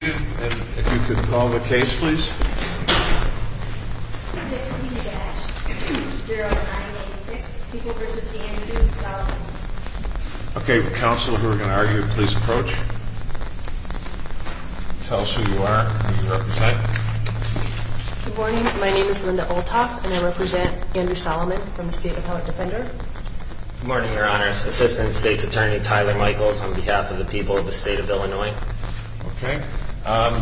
And if you could call the case, please. Okay, counsel, we're going to argue please approach. Tell us who you are. My name is Linda Olthoff, and I represent Andrew Solomon from the state of Howard defender. Morning, your honors, Assistant State's Attorney Tyler Michaels on behalf of the people of the state of Illinois. Okay. Um,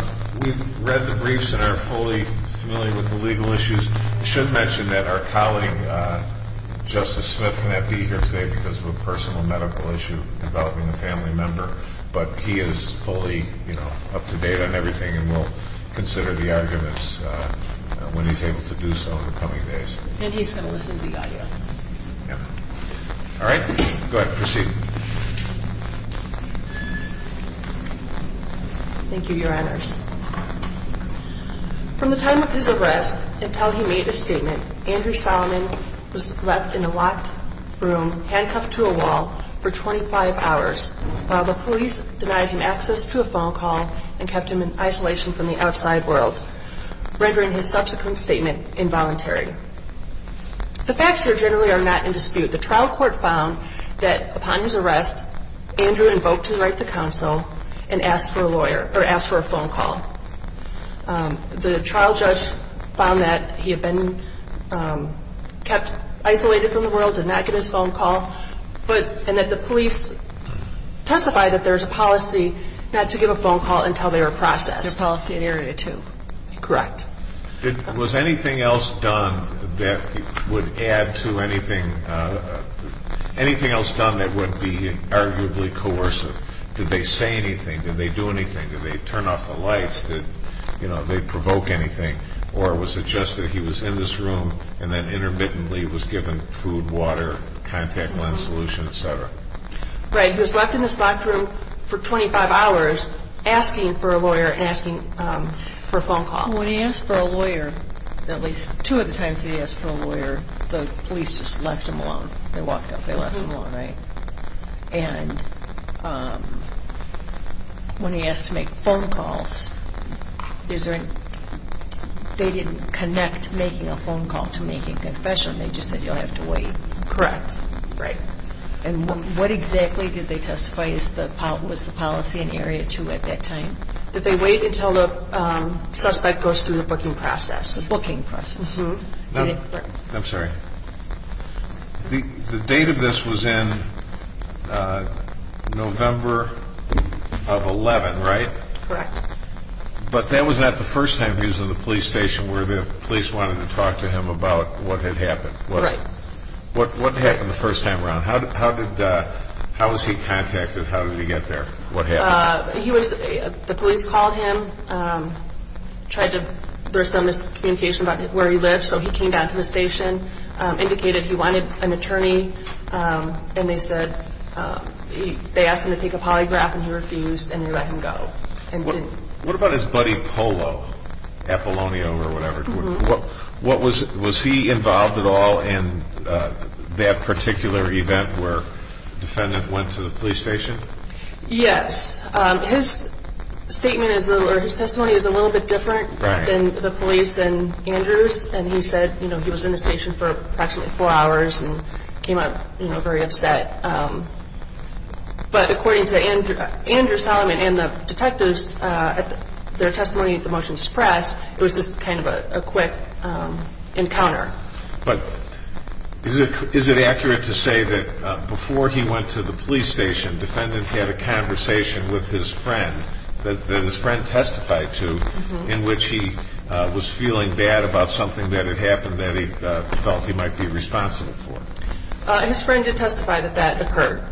we've read the briefs and are fully familiar with the legal issues. Should mention that our colleague, uh, Justice Smith, may not be here today because of a personal medical issue involving a family member, but he is fully, you know, up to date on everything. And we'll consider the arguments, uh, when he's able to do so in the coming days. And he's going to listen to the audio. Yeah. All right, go ahead and proceed. Thank you, your honors. From the time of his arrest until he made a statement, Andrew Solomon was left in a locked room, handcuffed to a wall for 25 hours, while the police denied him access to a phone call and kept him in isolation from the outside world, rendering his subsequent statement involuntary. The facts here generally are not in dispute. The trial court found that upon his arrest, Andrew invoked his right to counsel and asked for a lawyer, or asked for a phone call. Um, the trial judge found that he had been, um, kept isolated from the world, did not get his phone call, but, and that the police testified that there was a policy not to give a phone call until they were processed. A policy in area two. Correct. Did, was anything else done that would add to anything, uh, anything else done that would be arguably coercive? Did they say anything? Did they do anything? Did they turn off the lights? Did, you know, they provoke anything? Or was it just that he was in this room and then intermittently was given food, water, contact lens solution, et cetera. Right. He was left in this locked room for 25 hours, asking for a lawyer, asking, um, for a phone call. When he asked for a lawyer, at least two of the times that he asked for a lawyer, the police just left him alone. They walked up, they left him alone. Right. And, um, when he asked to make phone calls, is there any, they didn't connect making a phone call to making a confession. They just said, you'll have to wait. Correct. Right. And what exactly did they testify? Is the, was the policy in area two at that time? That they wait until the, um, suspect goes through the booking process. Booking process. I'm sorry. The, the date of this was in, uh, November of 11, right? Correct. But that was not the first time he was in the police station where the police wanted to talk to him about what had happened. Right. What, what happened the first time around? How did, how did, uh, how was he contacted? How did he get there? What happened? Uh, he was, uh, the police called him, um, tried to, there was some miscommunication about where he lives. So he came down to the station, um, indicated he wanted an attorney. Um, and they said, um, they asked him to take a polygraph and he refused and they let him go. And what about his buddy Polo? Apollonio or whatever, what, what was, was he involved at all in, uh, that particular event where defendant went to the police station? Yes. Um, his statement is a little, or his testimony is a little bit different than the police and Andrews. And he said, you know, he was in the station for approximately four hours and came out, you know, very upset. Um, but according to Andrew, Andrew Solomon and the detectives, uh, their testimony at the motions press, it was just kind of a quick, um, encounter. But is it, is it accurate to say that, uh, before he went to the police station, defendant had a conversation with his friend that his friend testified to in which he was feeling bad about something that had happened that he felt he might be responsible for? Uh, his friend did testify that that occurred,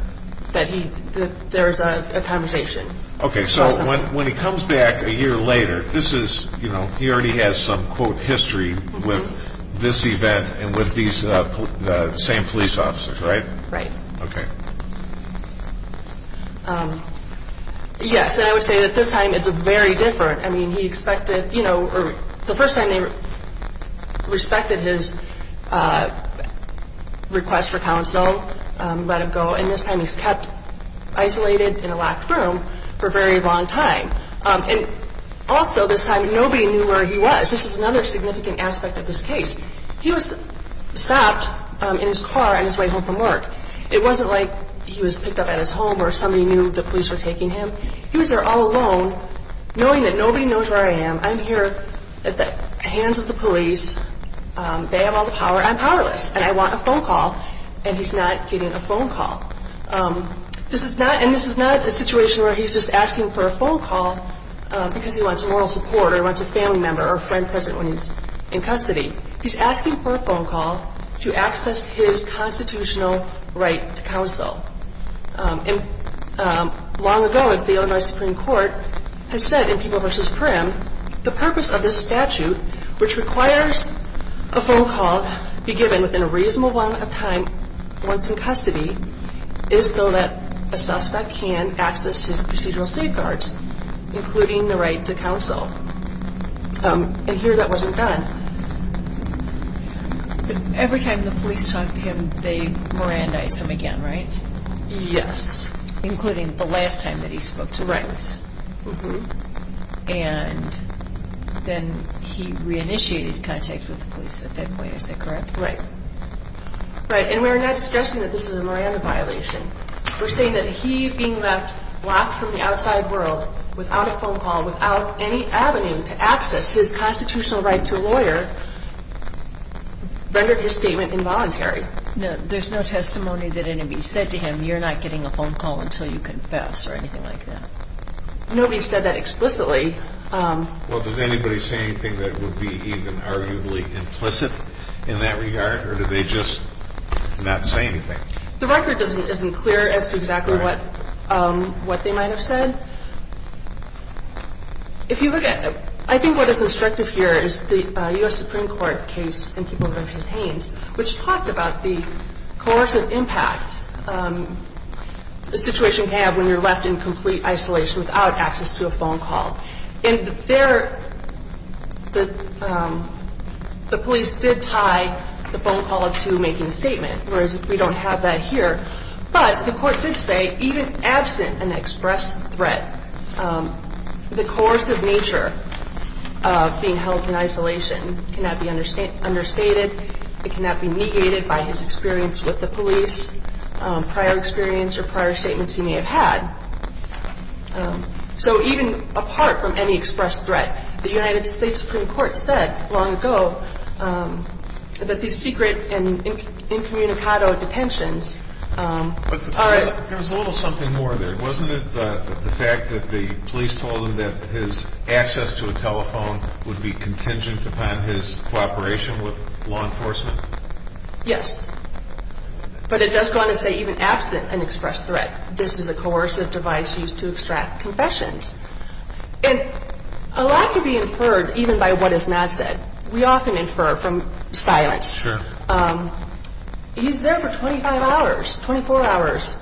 that he, that there was a conversation. Okay. So when, when he comes back a year later, this is, you know, he already has some quote history with this event and with these, uh, the same police officers, right? Right. Okay. Um, yes. And I would say that this time it's a very different, I mean, he expected, you know, the first time they respected his, uh, request for counsel, um, let him go. And this time he's kept isolated in a locked room for a very long time. Um, and also this time, nobody knew where he was. This is another significant aspect of this case. He was stopped in his car on his way home from work. It wasn't like he was picked up at his home or somebody knew the police were taking him. He was there all alone, knowing that nobody knows where I am. I'm here at the hands of the police. Um, they have all the power. I'm powerless and I want a phone call and he's not getting a phone call. Um, this is not, and this is not a situation where he's just asking for a phone call, um, because he wants moral support or wants a family member or friend present when he's in custody. He's asking for a phone call to access his constitutional right to counsel. Um, and, um, long ago at the Illinois Supreme Court has said in People versus Prim, the purpose of this statute, which requires a phone call be given within a reasonable amount of time once in custody is so that a suspect can access his procedural safeguards, including the right to counsel. Um, and here that wasn't done. Every time the police talked to him, they Mirandized him again, right? Yes. Including the last time that he spoke to us. And then he re-initiated contact with the police at that point. Is that correct? Right. Right. And we're not suggesting that this is a Miranda violation. We're saying that he being left locked from the outside world without a phone avenue to access his constitutional right to a lawyer rendered his statement involuntary. No, there's no testimony that anybody said to him, you're not getting a phone call until you confess or anything like that. Nobody said that explicitly. Um, well, did anybody say anything that would be even arguably implicit in that regard, or did they just not say anything? The record doesn't, isn't clear as to exactly what, um, what they might've said. If you look at, I think what is instructive here is the, uh, U.S. Supreme Court case in Keeble versus Haynes, which talked about the coercive impact, um, the situation can have when you're left in complete isolation without access to a phone call. And there, the, um, the police did tie the phone call up to making a statement. Whereas if we don't have that here, but the court did say even absent an express threat, um, the coercive nature of being held in isolation cannot be understated. It cannot be negated by his experience with the police, um, prior experience or prior statements he may have had. Um, so even apart from any expressed threat, the United States Supreme Court said long ago, um, that the secret and incommunicado detentions, um, There was a little something more there. Wasn't it the fact that the police told him that his access to a telephone would be contingent upon his cooperation with law enforcement? Yes, but it does go on to say even absent an express threat, this is a coercive device used to extract confessions. And a lot can be inferred even by what is not said. We often infer from silence, um, he's there for 25 hours, 24 hours.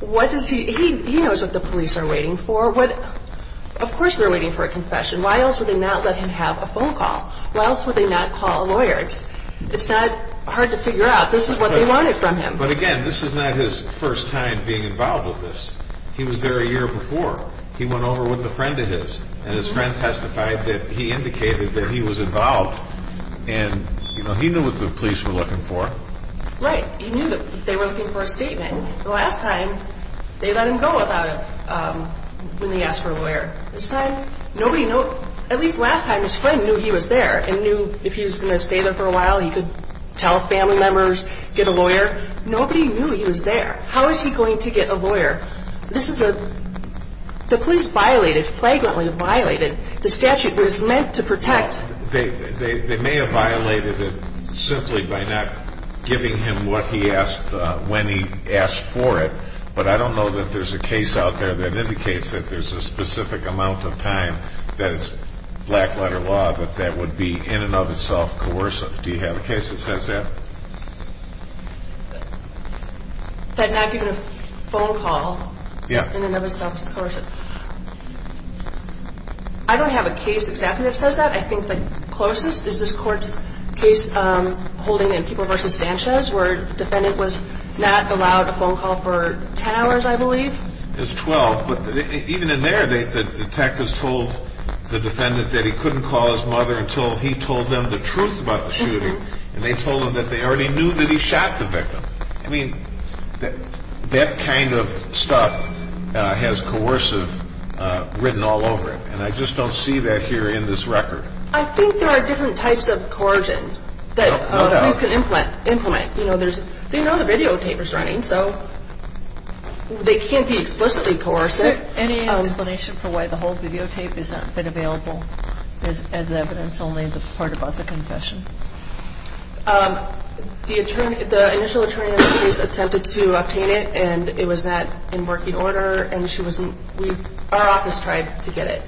What does he, he, he knows what the police are waiting for. What, of course they're waiting for a confession. Why else would they not let him have a phone call? Why else would they not call a lawyer? It's, it's not hard to figure out. This is what they wanted from him. But again, this is not his first time being involved with this. He was there a year before he went over with a friend of his and his friend testified that he indicated that he was involved and, you know, he knew what the police were looking for. Right. He knew that they were looking for a statement the last time they let him go without it, um, when they asked for a lawyer this time, nobody knows, at least last time his friend knew he was there and knew if he was going to stay there for a while, he could tell family members, get a lawyer, nobody knew he was there. How is he going to get a lawyer? This is a, the police violated, flagrantly violated, the statute was meant to protect. They, they, they may have violated it simply by not giving him what he asked, uh, when he asked for it. But I don't know that there's a case out there that indicates that there's a specific amount of time that it's black letter law, that that would be in and of itself, coercive. Do you have a case that says that? That not giving a phone call is in and of itself coercive. I don't have a case exactly that says that. I think the closest is this court's case, um, holding in people versus Sanchez, where defendant was not allowed a phone call for 10 hours, I believe. There's 12, but even in there, they, the detectives told the defendant that he couldn't call his mother until he told them the truth about the shooting and they told him that they already knew that he shot the victim. I mean, that kind of stuff, uh, has coercive, uh, written all over it. And I just don't see that here in this record. I think there are different types of coercion that police can implement, implement, you know, there's, they know the videotape is running, so they can't be explicitly coercive. Any explanation for why the whole videotape is not been available as evidence only the part about the confession? Um, the attorney, the initial attorney on the case attempted to obtain it and it was not in working order and she wasn't, we, our office tried to get it.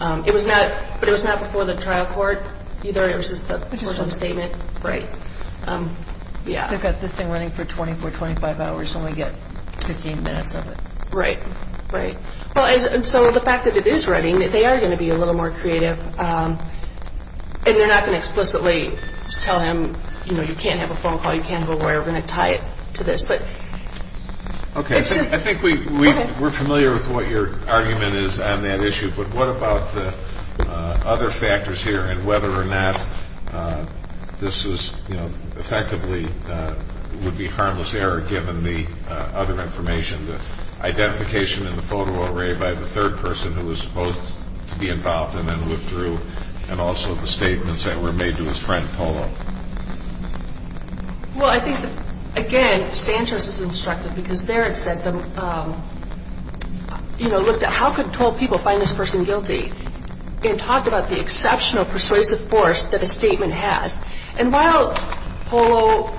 Um, it was not, but it was not before the trial court either. It was just the statement. Right. Um, yeah, I've got this thing running for 24, 25 hours. So when we get 15 minutes of it, right. Right. Well, and so the fact that it is running, that they are going to be a little more creative, um, and they're not going to explicitly tell him, you know, you can't have a phone call. You can't have a lawyer. We're going to tie it to this, but okay. I think we, we, we're familiar with what your argument is on that issue, but what about the, uh, other factors here and whether or not, uh, this was, you know, effectively, uh, would be harmless error given the, uh, other information, the identification in the photo array by the third person who was supposed to be involved and then withdrew and also the statements that were made to his friend Polo. Well, I think again, Sanchez is instructed because there it said, um, you can talk about the exceptional persuasive force that a statement has. And while Polo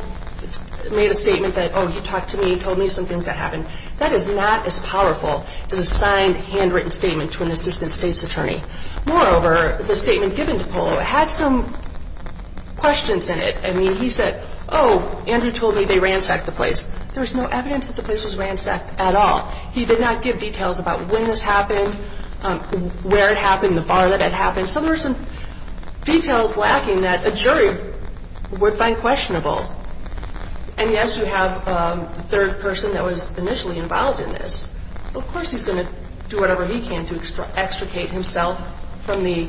made a statement that, oh, he talked to me, he told me some things that happened that is not as powerful as a signed handwritten statement to an assistant state's attorney. Moreover, the statement given to Polo had some questions in it. I mean, he said, oh, Andrew told me they ransacked the place. There was no evidence that the place was ransacked at all. He did not give details about when this happened, um, where it happened, the bar that had happened. So there were some details lacking that a jury would find questionable. And yes, you have, um, the third person that was initially involved in this. Of course, he's going to do whatever he can to extricate himself from the,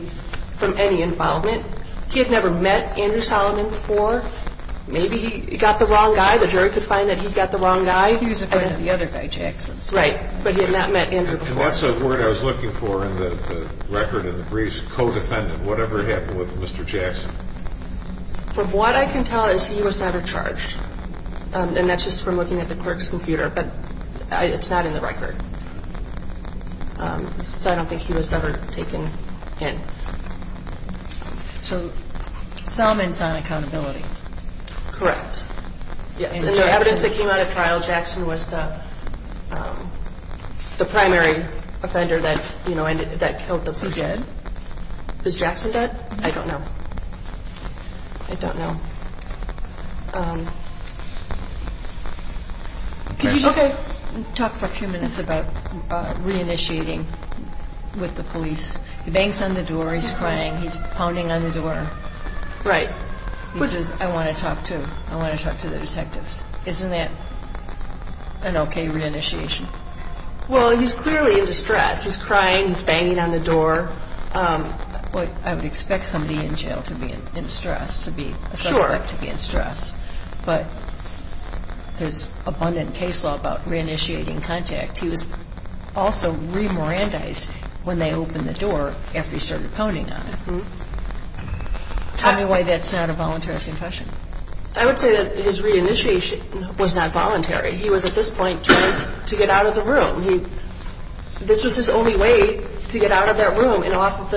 from any involvement. He had never met Andrew Solomon before. Maybe he got the wrong guy. The jury could find that he got the wrong guy. The other guy, Jackson's right, but he had not met Andrew. And that's a word I was looking for in the record and the briefs co-defendant, whatever happened with Mr. Jackson. From what I can tell is he was never charged. Um, and that's just from looking at the clerk's computer, but it's not in the record. Um, so I don't think he was ever taken in. So Solomon's on accountability. Correct. Yes. And the evidence that came out of trial, Jackson was the, um, the primary offender that, you know, that killed the person. Is he dead? Was Jackson dead? I don't know. I don't know. Um, can you just talk for a few minutes about, uh, re-initiating with the police? He bangs on the door, he's crying, he's pounding on the door. Right. He says, I want to talk to, I want to talk to the detective. Isn't that an okay re-initiation? Well, he's clearly in distress. He's crying, he's banging on the door. Um, I would expect somebody in jail to be in stress, to be a suspect to be in stress, but there's abundant case law about re-initiating contact. He was also re-Morandized when they opened the door after he started pounding on it. Tell me why that's not a voluntary confession. I would say that his re-initiation was not voluntary. He was at this point trying to get out of the room. He, this was his only way to get out of that room and off of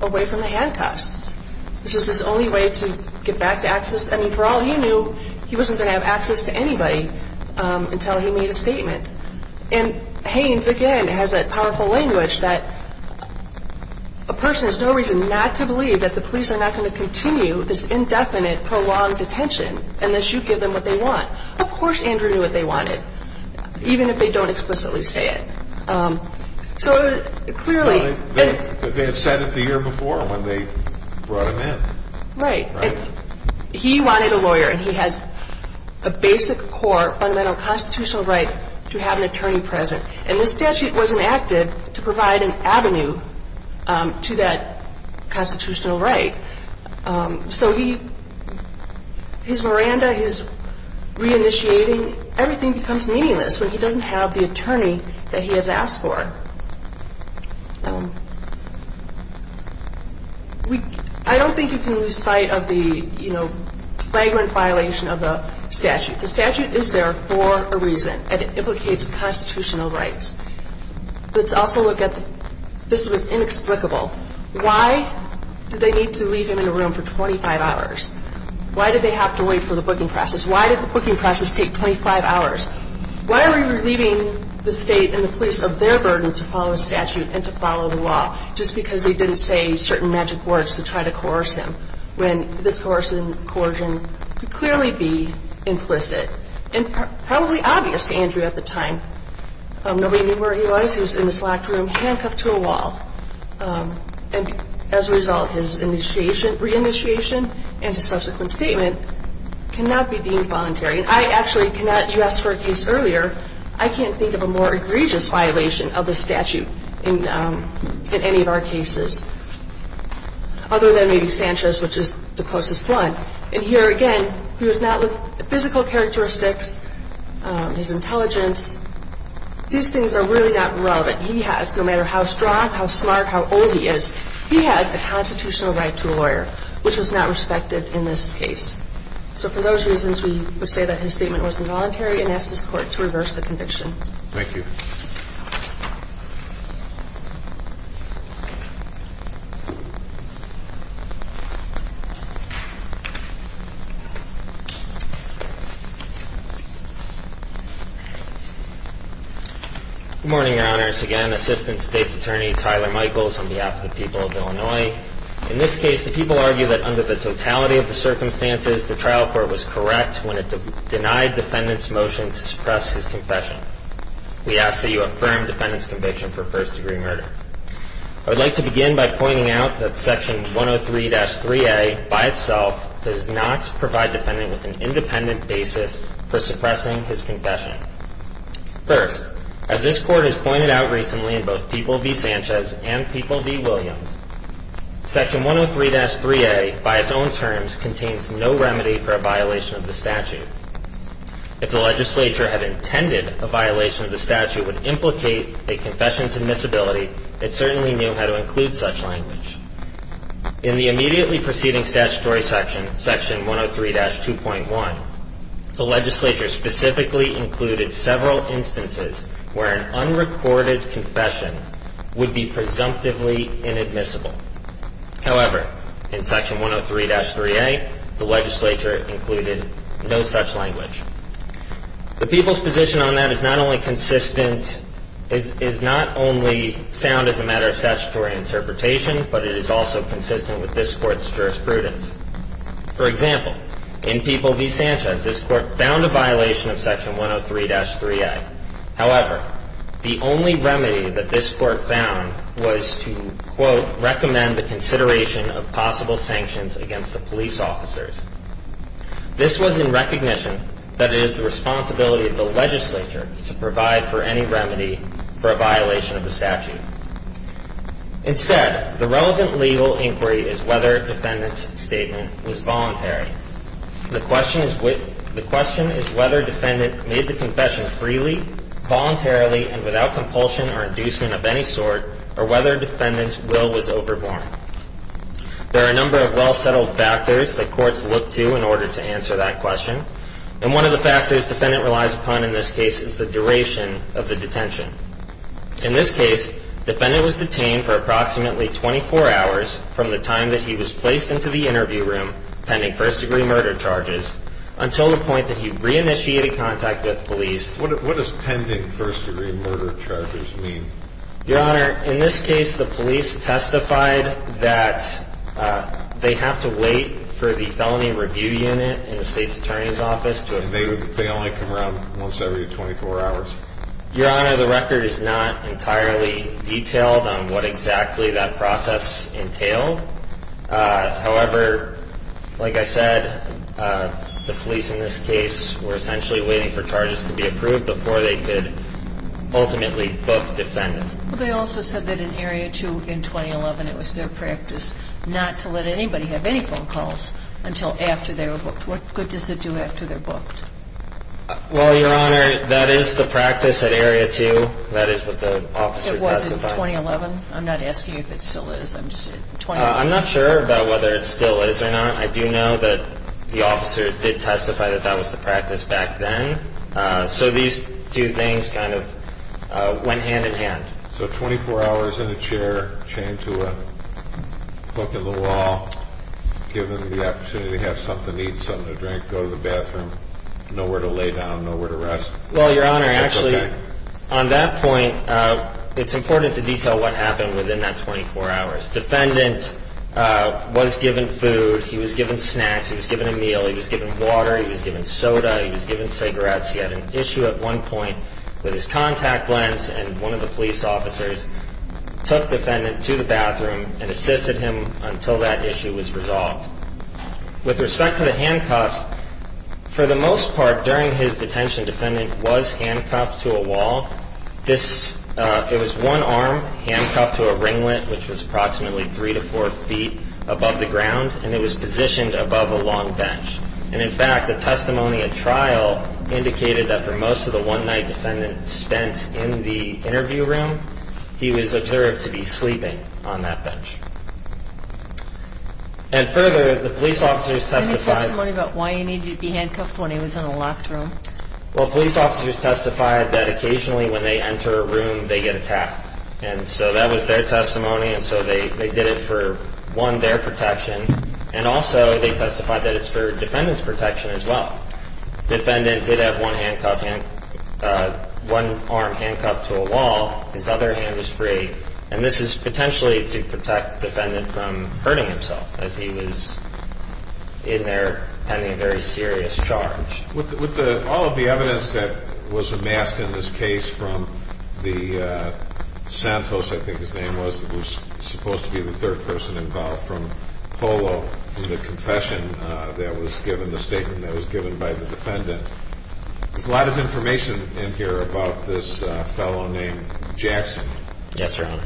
the, away from the handcuffs, which was his only way to get back to access. I mean, for all he knew, he wasn't going to have access to anybody, um, until he made a statement and Haynes again, has that powerful language that a person has no reason not to believe that the police are not going to continue this indefinite, prolonged detention, unless you give them what they want. Of course, Andrew knew what they wanted, even if they don't explicitly say it. Um, so clearly, they had said it the year before when they brought him in. Right. He wanted a lawyer and he has a basic core fundamental constitutional right to have an attorney present. And the statute wasn't active to provide an avenue, um, to that constitutional right. Um, so he, his Miranda, his re-initiating, everything becomes meaningless when he doesn't have the attorney that he has asked for. Um, we, I don't think you can lose sight of the, you know, flagrant violation of the statute. The statute is there for a reason and it implicates constitutional rights. Let's also look at the, this was inexplicable. Why did they need to leave him in a room for 25 hours? Why did they have to wait for the booking process? Why did the booking process take 25 hours? Why are we relieving the state and the police of their burden to follow the statute and to follow the law just because they didn't say certain magic words to try to coerce him when this coercion could clearly be implicit and probably obvious to Andrew at the time. Um, nobody knew where he was. He was in this locked room, handcuffed to a wall. Um, and as a result, his initiation, re-initiation and his subsequent statement cannot be deemed voluntary. And I actually cannot, you asked for a case earlier, I can't think of a more egregious violation of the statute in, um, in any of our cases other than maybe Sanchez, which is the closest one. And here again, he was not with the physical characteristics, um, his intelligence, these things are really not relevant. He has no matter how strong, how smart, how old he is, he has a constitutional right to a lawyer, which was not respected in this case. So for those reasons, we would say that his statement was involuntary and asked this court to reverse the conviction. Thank you. Good morning, your honors. Again, assistant state's attorney, Tyler Michaels on behalf of the people of Illinois, in this case, the people argue that under the totality of the circumstances, the trial court was correct when it denied defendant's motion to suppress his confession. We ask that you affirm defendant's conviction for first degree murder. I would like to begin by pointing out that section 103-3A by itself does not provide defendant with an independent basis for suppressing his confession. First, as this court has pointed out recently in both people v. Sanchez and people v. Williams, section 103-3A by its own terms contains no remedy for a violation of the statute would implicate a confession's admissibility. It certainly knew how to include such language. In the immediately preceding statutory section, section 103-2.1, the legislature specifically included several instances where an unrecorded confession would be presumptively inadmissible. However, in section 103-3A, the legislature included no such language. The people's position on that is not only consistent, is not only sound as a matter of statutory interpretation, but it is also consistent with this court's jurisprudence. For example, in people v. Sanchez, this court found a violation of section 103-3A. However, the only remedy that this court found was to, quote, recommend the consideration of possible sanctions against the police officers. This was in recognition that it is the responsibility of the legislature to provide for any remedy for a violation of the statute. Instead, the relevant legal inquiry is whether a defendant's statement was voluntary. The question is whether a defendant made the confession freely, voluntarily, and without compulsion or inducement of any sort, or whether a defendant's will was overborne. There are a number of well-settled factors that courts look to in order to answer that question, and one of the factors defendant relies upon in this case is the duration of the detention. In this case, defendant was detained for approximately 24 hours from the time that he was placed into the interview room pending first-degree murder charges until the point that he re-initiated contact with police. What does pending first-degree murder charges mean? Your Honor, in this case, the police testified that they have to wait for the felony review unit in the state's attorney's office to- And they only come around once every 24 hours. Your Honor, the record is not entirely detailed on what exactly that process entailed. However, like I said, the police in this case were essentially waiting for that. And they also said that in Area 2 in 2011, it was their practice not to let anybody have any phone calls until after they were booked. What good does it do after they're booked? Well, Your Honor, that is the practice at Area 2. That is what the officer testified. It was in 2011? I'm not asking if it still is. I'm just saying 2011. I'm not sure about whether it still is or not. I do know that the officers did testify that that was the practice back then, so these two things kind of went hand in hand. So 24 hours in a chair, chained to a hook in the wall, given the opportunity to have something to eat, something to drink, go to the bathroom, nowhere to lay down, nowhere to rest. Well, Your Honor, actually, on that point, it's important to detail what happened within that 24 hours. Defendant was given food. He was given snacks. He was given a meal. He was given water. He was given soda. He was given cigarettes. He had an issue at one point with his contact lens, and one of the police officers took defendant to the bathroom and assisted him until that issue was resolved. With respect to the handcuffs, for the most part, during his detention, defendant was handcuffed to a wall. It was one arm handcuffed to a ringlet, which was approximately three to four feet above the ground, and it was positioned above a long bench. And in fact, the testimony at trial indicated that for most of the one-night defendant spent in the interview room, he was observed to be sleeping on that bench. And further, the police officers testified... Any testimony about why he needed to be handcuffed when he was in a locked room? Well, police officers testified that occasionally when they enter a room, they get attacked. And so that was their testimony, and so they did it for, one, their protection, and also they testified that it's for defendant's protection as well. Defendant did have one arm handcuffed to a wall. His other hand was free, and this is potentially to protect defendant from hurting himself as he was in there pending a very serious charge. With all of the evidence that was amassed in this case from the Santos, I think his name was, who was supposed to be the third person involved, from Polo, in the confession that was given, the statement that was given by the defendant. There's a lot of information in here about this fellow named Jackson. Yes, Your Honor.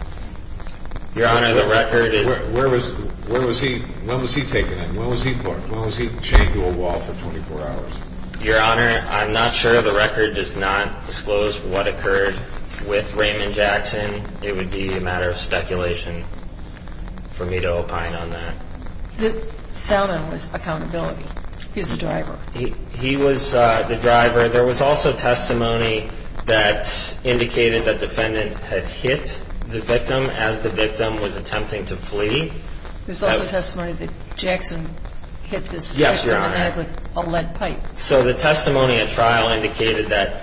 Your Honor, the record is... Where was he, when was he taken in? When was he put, when was he chained to a wall for 24 hours? Your Honor, I'm not sure. The record does not disclose what occurred with Raymond Jackson. It would be a matter of speculation for me to opine on that. Salmon was accountability. He was the driver. He was the driver. There was also testimony that indicated that defendant had hit the victim as the victim was attempting to flee. There's also testimony that Jackson hit this defendant with a lead pipe. So the testimony at trial indicated that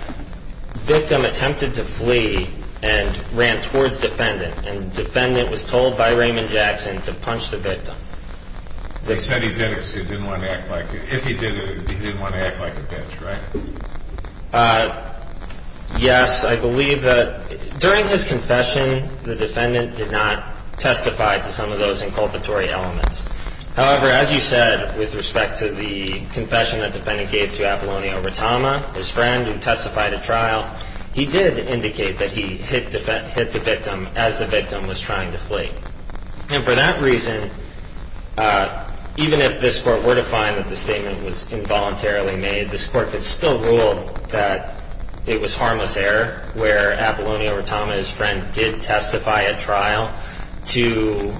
victim attempted to flee and ran towards defendant, and defendant was told by Raymond Jackson to punch the victim. They said he did it because he didn't want to act like, if he did it, he didn't want to act like a bitch, right? Yes, I believe that during his confession, the defendant did not testify to some of those inculpatory elements. However, as you said, with respect to the confession that defendant gave to Apollonio Rattama, his friend, who testified at trial, he did indicate that he hit the victim as the victim was trying to flee. And for that reason, even if this court were to find that the statement was involuntarily made, this court could still rule that it was harmless error, where Apollonio Rattama, his friend, did testify at trial to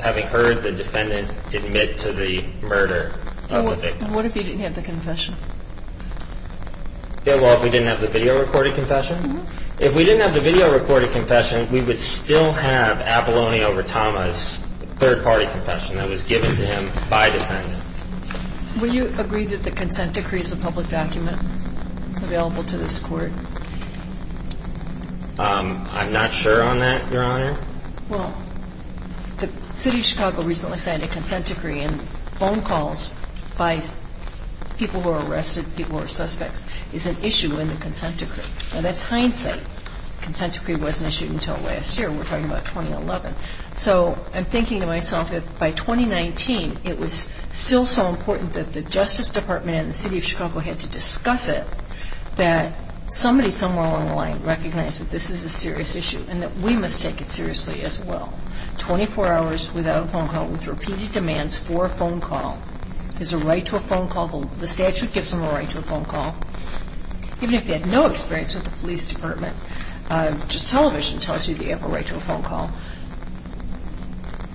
having heard the defendant admit to the murder of the victim. And what if he didn't have the confession? Yeah, well, if we didn't have the video recorded confession? If we didn't have the video recorded confession, we would still have Apollonio Rattama's third-party confession that was given to him by defendant. And if we didn't have the video recorded confession, we would still have Apollonio Rattama's third-party confession that was given to him by defendant. Would you agree that the consent decree is a public document available to this Court? I'm not sure on that, Your Honor. Well, the City of Chicago recently signed a consent decree, and phone calls by people who are arrested, people who are suspects, is an issue in the consent decree. Now, that's hindsight. The consent decree wasn't issued until last year. We're talking about 2011. So I'm thinking to myself that by 2019, it was still so important that the Justice Department and the City of Chicago had to discuss it, that somebody somewhere along the line recognized that this is a serious issue and that we must take it seriously as well. Twenty-four hours without a phone call with repeated demands for a phone call. There's a right to a phone call. The statute gives him a right to a phone call. Even if he had no experience with the police department, just television tells you that you have a right to a phone call.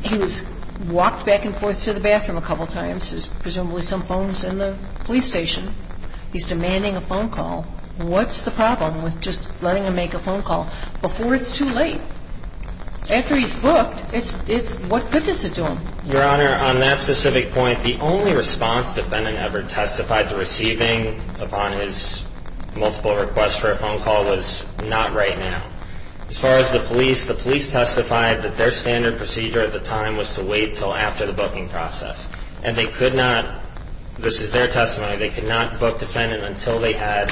He was walked back and forth to the bathroom a couple times. There's presumably some phones in the police station. He's demanding a phone call. What's the problem with just letting him make a phone call before it's too late? After he's booked, what good does it do him? Your Honor, on that specific point, the only response defendant ever testified to receiving upon his multiple requests for a phone call was not right now. As far as the police, the police testified that their standard procedure at the time was to wait until after the booking process. And they could not, this is their testimony, they could not book defendant until they had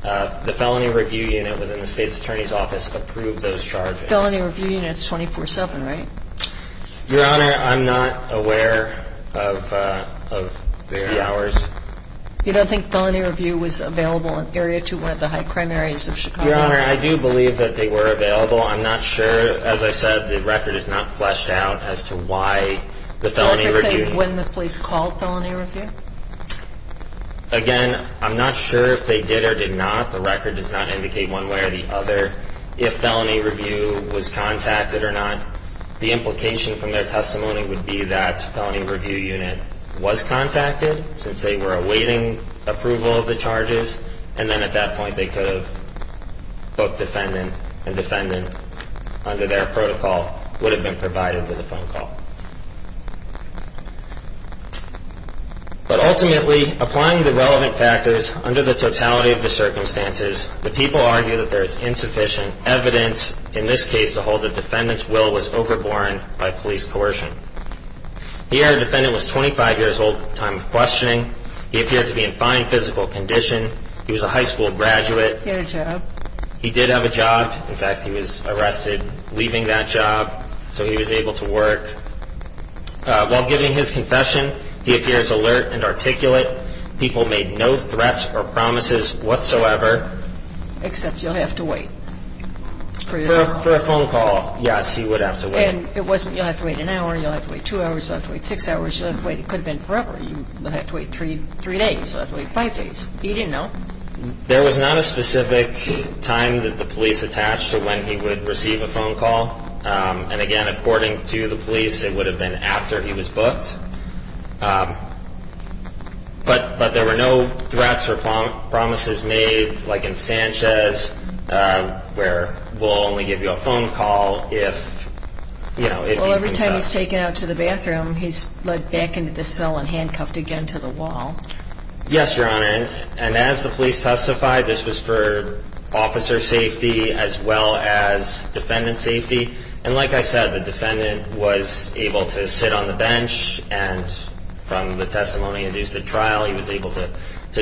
the Felony Review Unit within the State's Attorney's Office approve those charges. Felony Review Unit is 24-7, right? Your Honor, I'm not aware of the hours. You don't think Felony Review was available in Area 2, one of the high crime areas of Chicago? Your Honor, I do believe that they were available. I'm not sure. Your Honor, as I said, the record is not fleshed out as to why the Felony Review Unit- Would you say when the police called Felony Review? Again, I'm not sure if they did or did not. The record does not indicate one way or the other if Felony Review was contacted or not. The implication from their testimony would be that Felony Review Unit was contacted since they were awaiting approval of the charges. And then at that point, they could have booked defendant and defendant, under their protocol, would have been provided with a phone call. But ultimately, applying the relevant factors under the totality of the circumstances, the people argue that there is insufficient evidence, in this case, to hold that defendant's will was overborne by police coercion. The defendant was 25 years old at the time of questioning. He appeared to be in fine physical condition. He was a high school graduate. He had a job. He did have a job. In fact, he was arrested leaving that job, so he was able to work. While giving his confession, he appears alert and articulate. People made no threats or promises whatsoever. Except you'll have to wait. For a phone call, yes, he would have to wait. And it wasn't you'll have to wait an hour, you'll have to wait two hours, you'll have to wait six hours, you'll have to wait. It could have been forever. You'll have to wait three days, you'll have to wait five days. He didn't know. There was not a specific time that the police attached to when he would receive a phone call. And again, according to the police, it would have been after he was booked. But there were no threats or promises made, like in Sanchez, where we'll only give you a phone call if, you know, if you can get out. Well, every time he's taken out to the bathroom, he's led back into the cell and handcuffed again to the wall. Yes, Your Honor. And as the police testified, this was for officer safety as well as defendant safety. And like I said, the defendant was able to sit on the bench. And from the testimony induced at trial, he was able to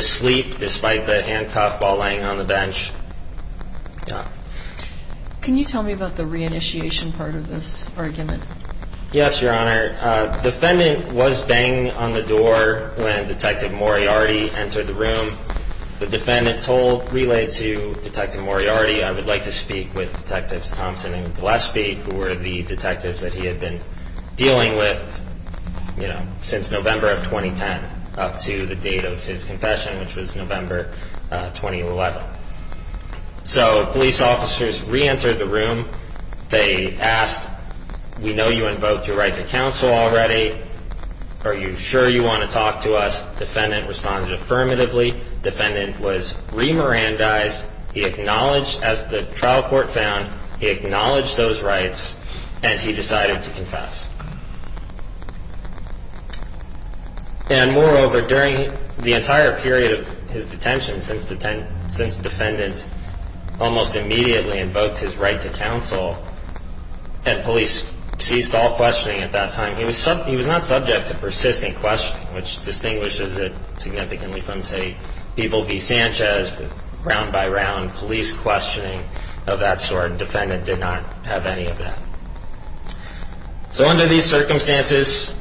sleep despite the handcuff while laying on the bench. Can you tell me about the reinitiation part of this argument? Yes, Your Honor. Defendant was banging on the door when Detective Moriarty entered the room. The defendant told, relayed to Detective Moriarty, I would like to speak with Detectives Thompson and Gillespie, who were the detectives that he had been dealing with, you know, since November of 2010, up to the date of his confession, which was November 2011. So police officers reentered the room. They asked, we know you invoked your right to counsel already. Are you sure you want to talk to us? Defendant responded affirmatively. Defendant was remirandized. He acknowledged, as the trial court found, he acknowledged those rights, and he decided to confess. And moreover, during the entire period of his detention, since defendant almost immediately invoked his right to counsel, and police ceased all questioning at that time, he was not subject to persistent questioning, which distinguishes it significantly from, say, people v. Sanchez, with round-by-round police questioning of that sort. Defendant did not have any of that. So under these circumstances,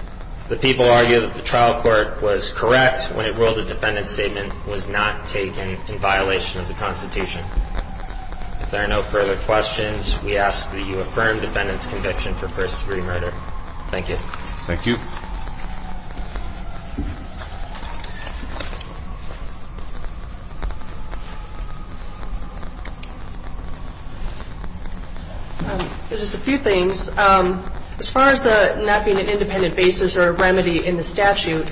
the people argue that the trial court was correct when it ruled the defendant's statement was not taken in violation of the Constitution. If there are no further questions, we ask that you affirm defendant's conviction for first degree murder. Thank you. Thank you. Just a few things. As far as the not being an independent basis or a remedy in the statute,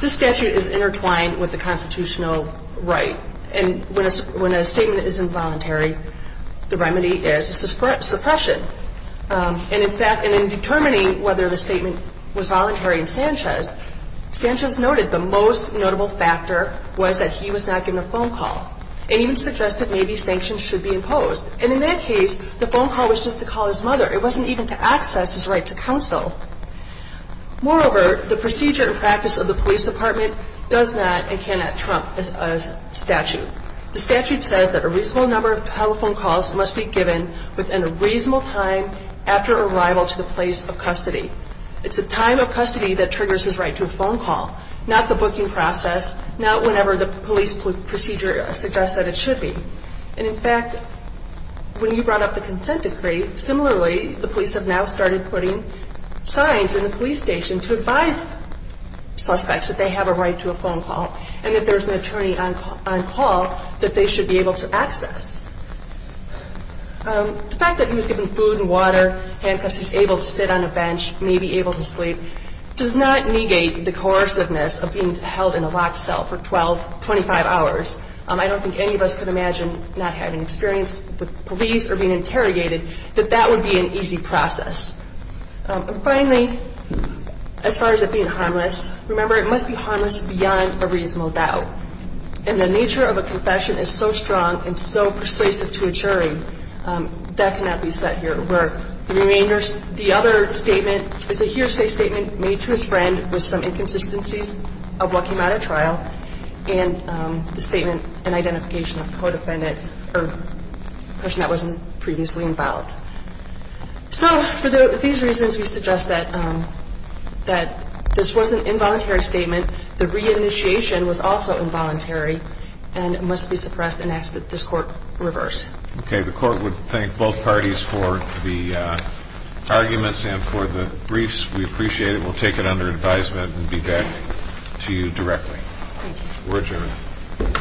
this statute is intertwined with the constitutional right. And when a statement is involuntary, the remedy is suppression. And in fact, in determining whether the statement was voluntary in Sanchez, Sanchez noted the most notable factor was that he was not given a phone call and even suggested maybe sanctions should be imposed. And in that case, the phone call was just to call his mother. It wasn't even to access his right to counsel. Moreover, the procedure and practice of the police department does not and cannot trump a statute. The statute says that a reasonable number of telephone calls must be given within a reasonable time after arrival to the place of custody. It's the time of custody that triggers his right to a phone call, not the booking process, not whenever the police procedure suggests that it should be. And in fact, when you brought up the consent decree, similarly the police have now started putting signs in the police station to advise suspects that they have a right to a phone call and that there's an attorney on call that they should be able to access. The fact that he was given food and water, handcuffs, he's able to sit on a bench, may be able to sleep, does not negate the coerciveness of being held in a locked cell for 12, 25 hours. I don't think any of us could imagine not having experience with police or being interrogated that that would be an easy process. And finally, as far as it being harmless, remember it must be harmless beyond a reasonable doubt. And the nature of a confession is so strong and so persuasive to a jury that cannot be set here at work. The other statement is a hearsay statement made to his friend with some inconsistencies of what came out of trial and the statement and identification of co-defendant or person that wasn't previously involved. So for these reasons, we suggest that this was an involuntary statement. The reinitiation was also involuntary and must be suppressed and asked that this court reverse. Okay. The court would thank both parties for the arguments and for the briefs. We appreciate it. We'll take it under advisement and be back to you directly. Thank you. We're adjourned.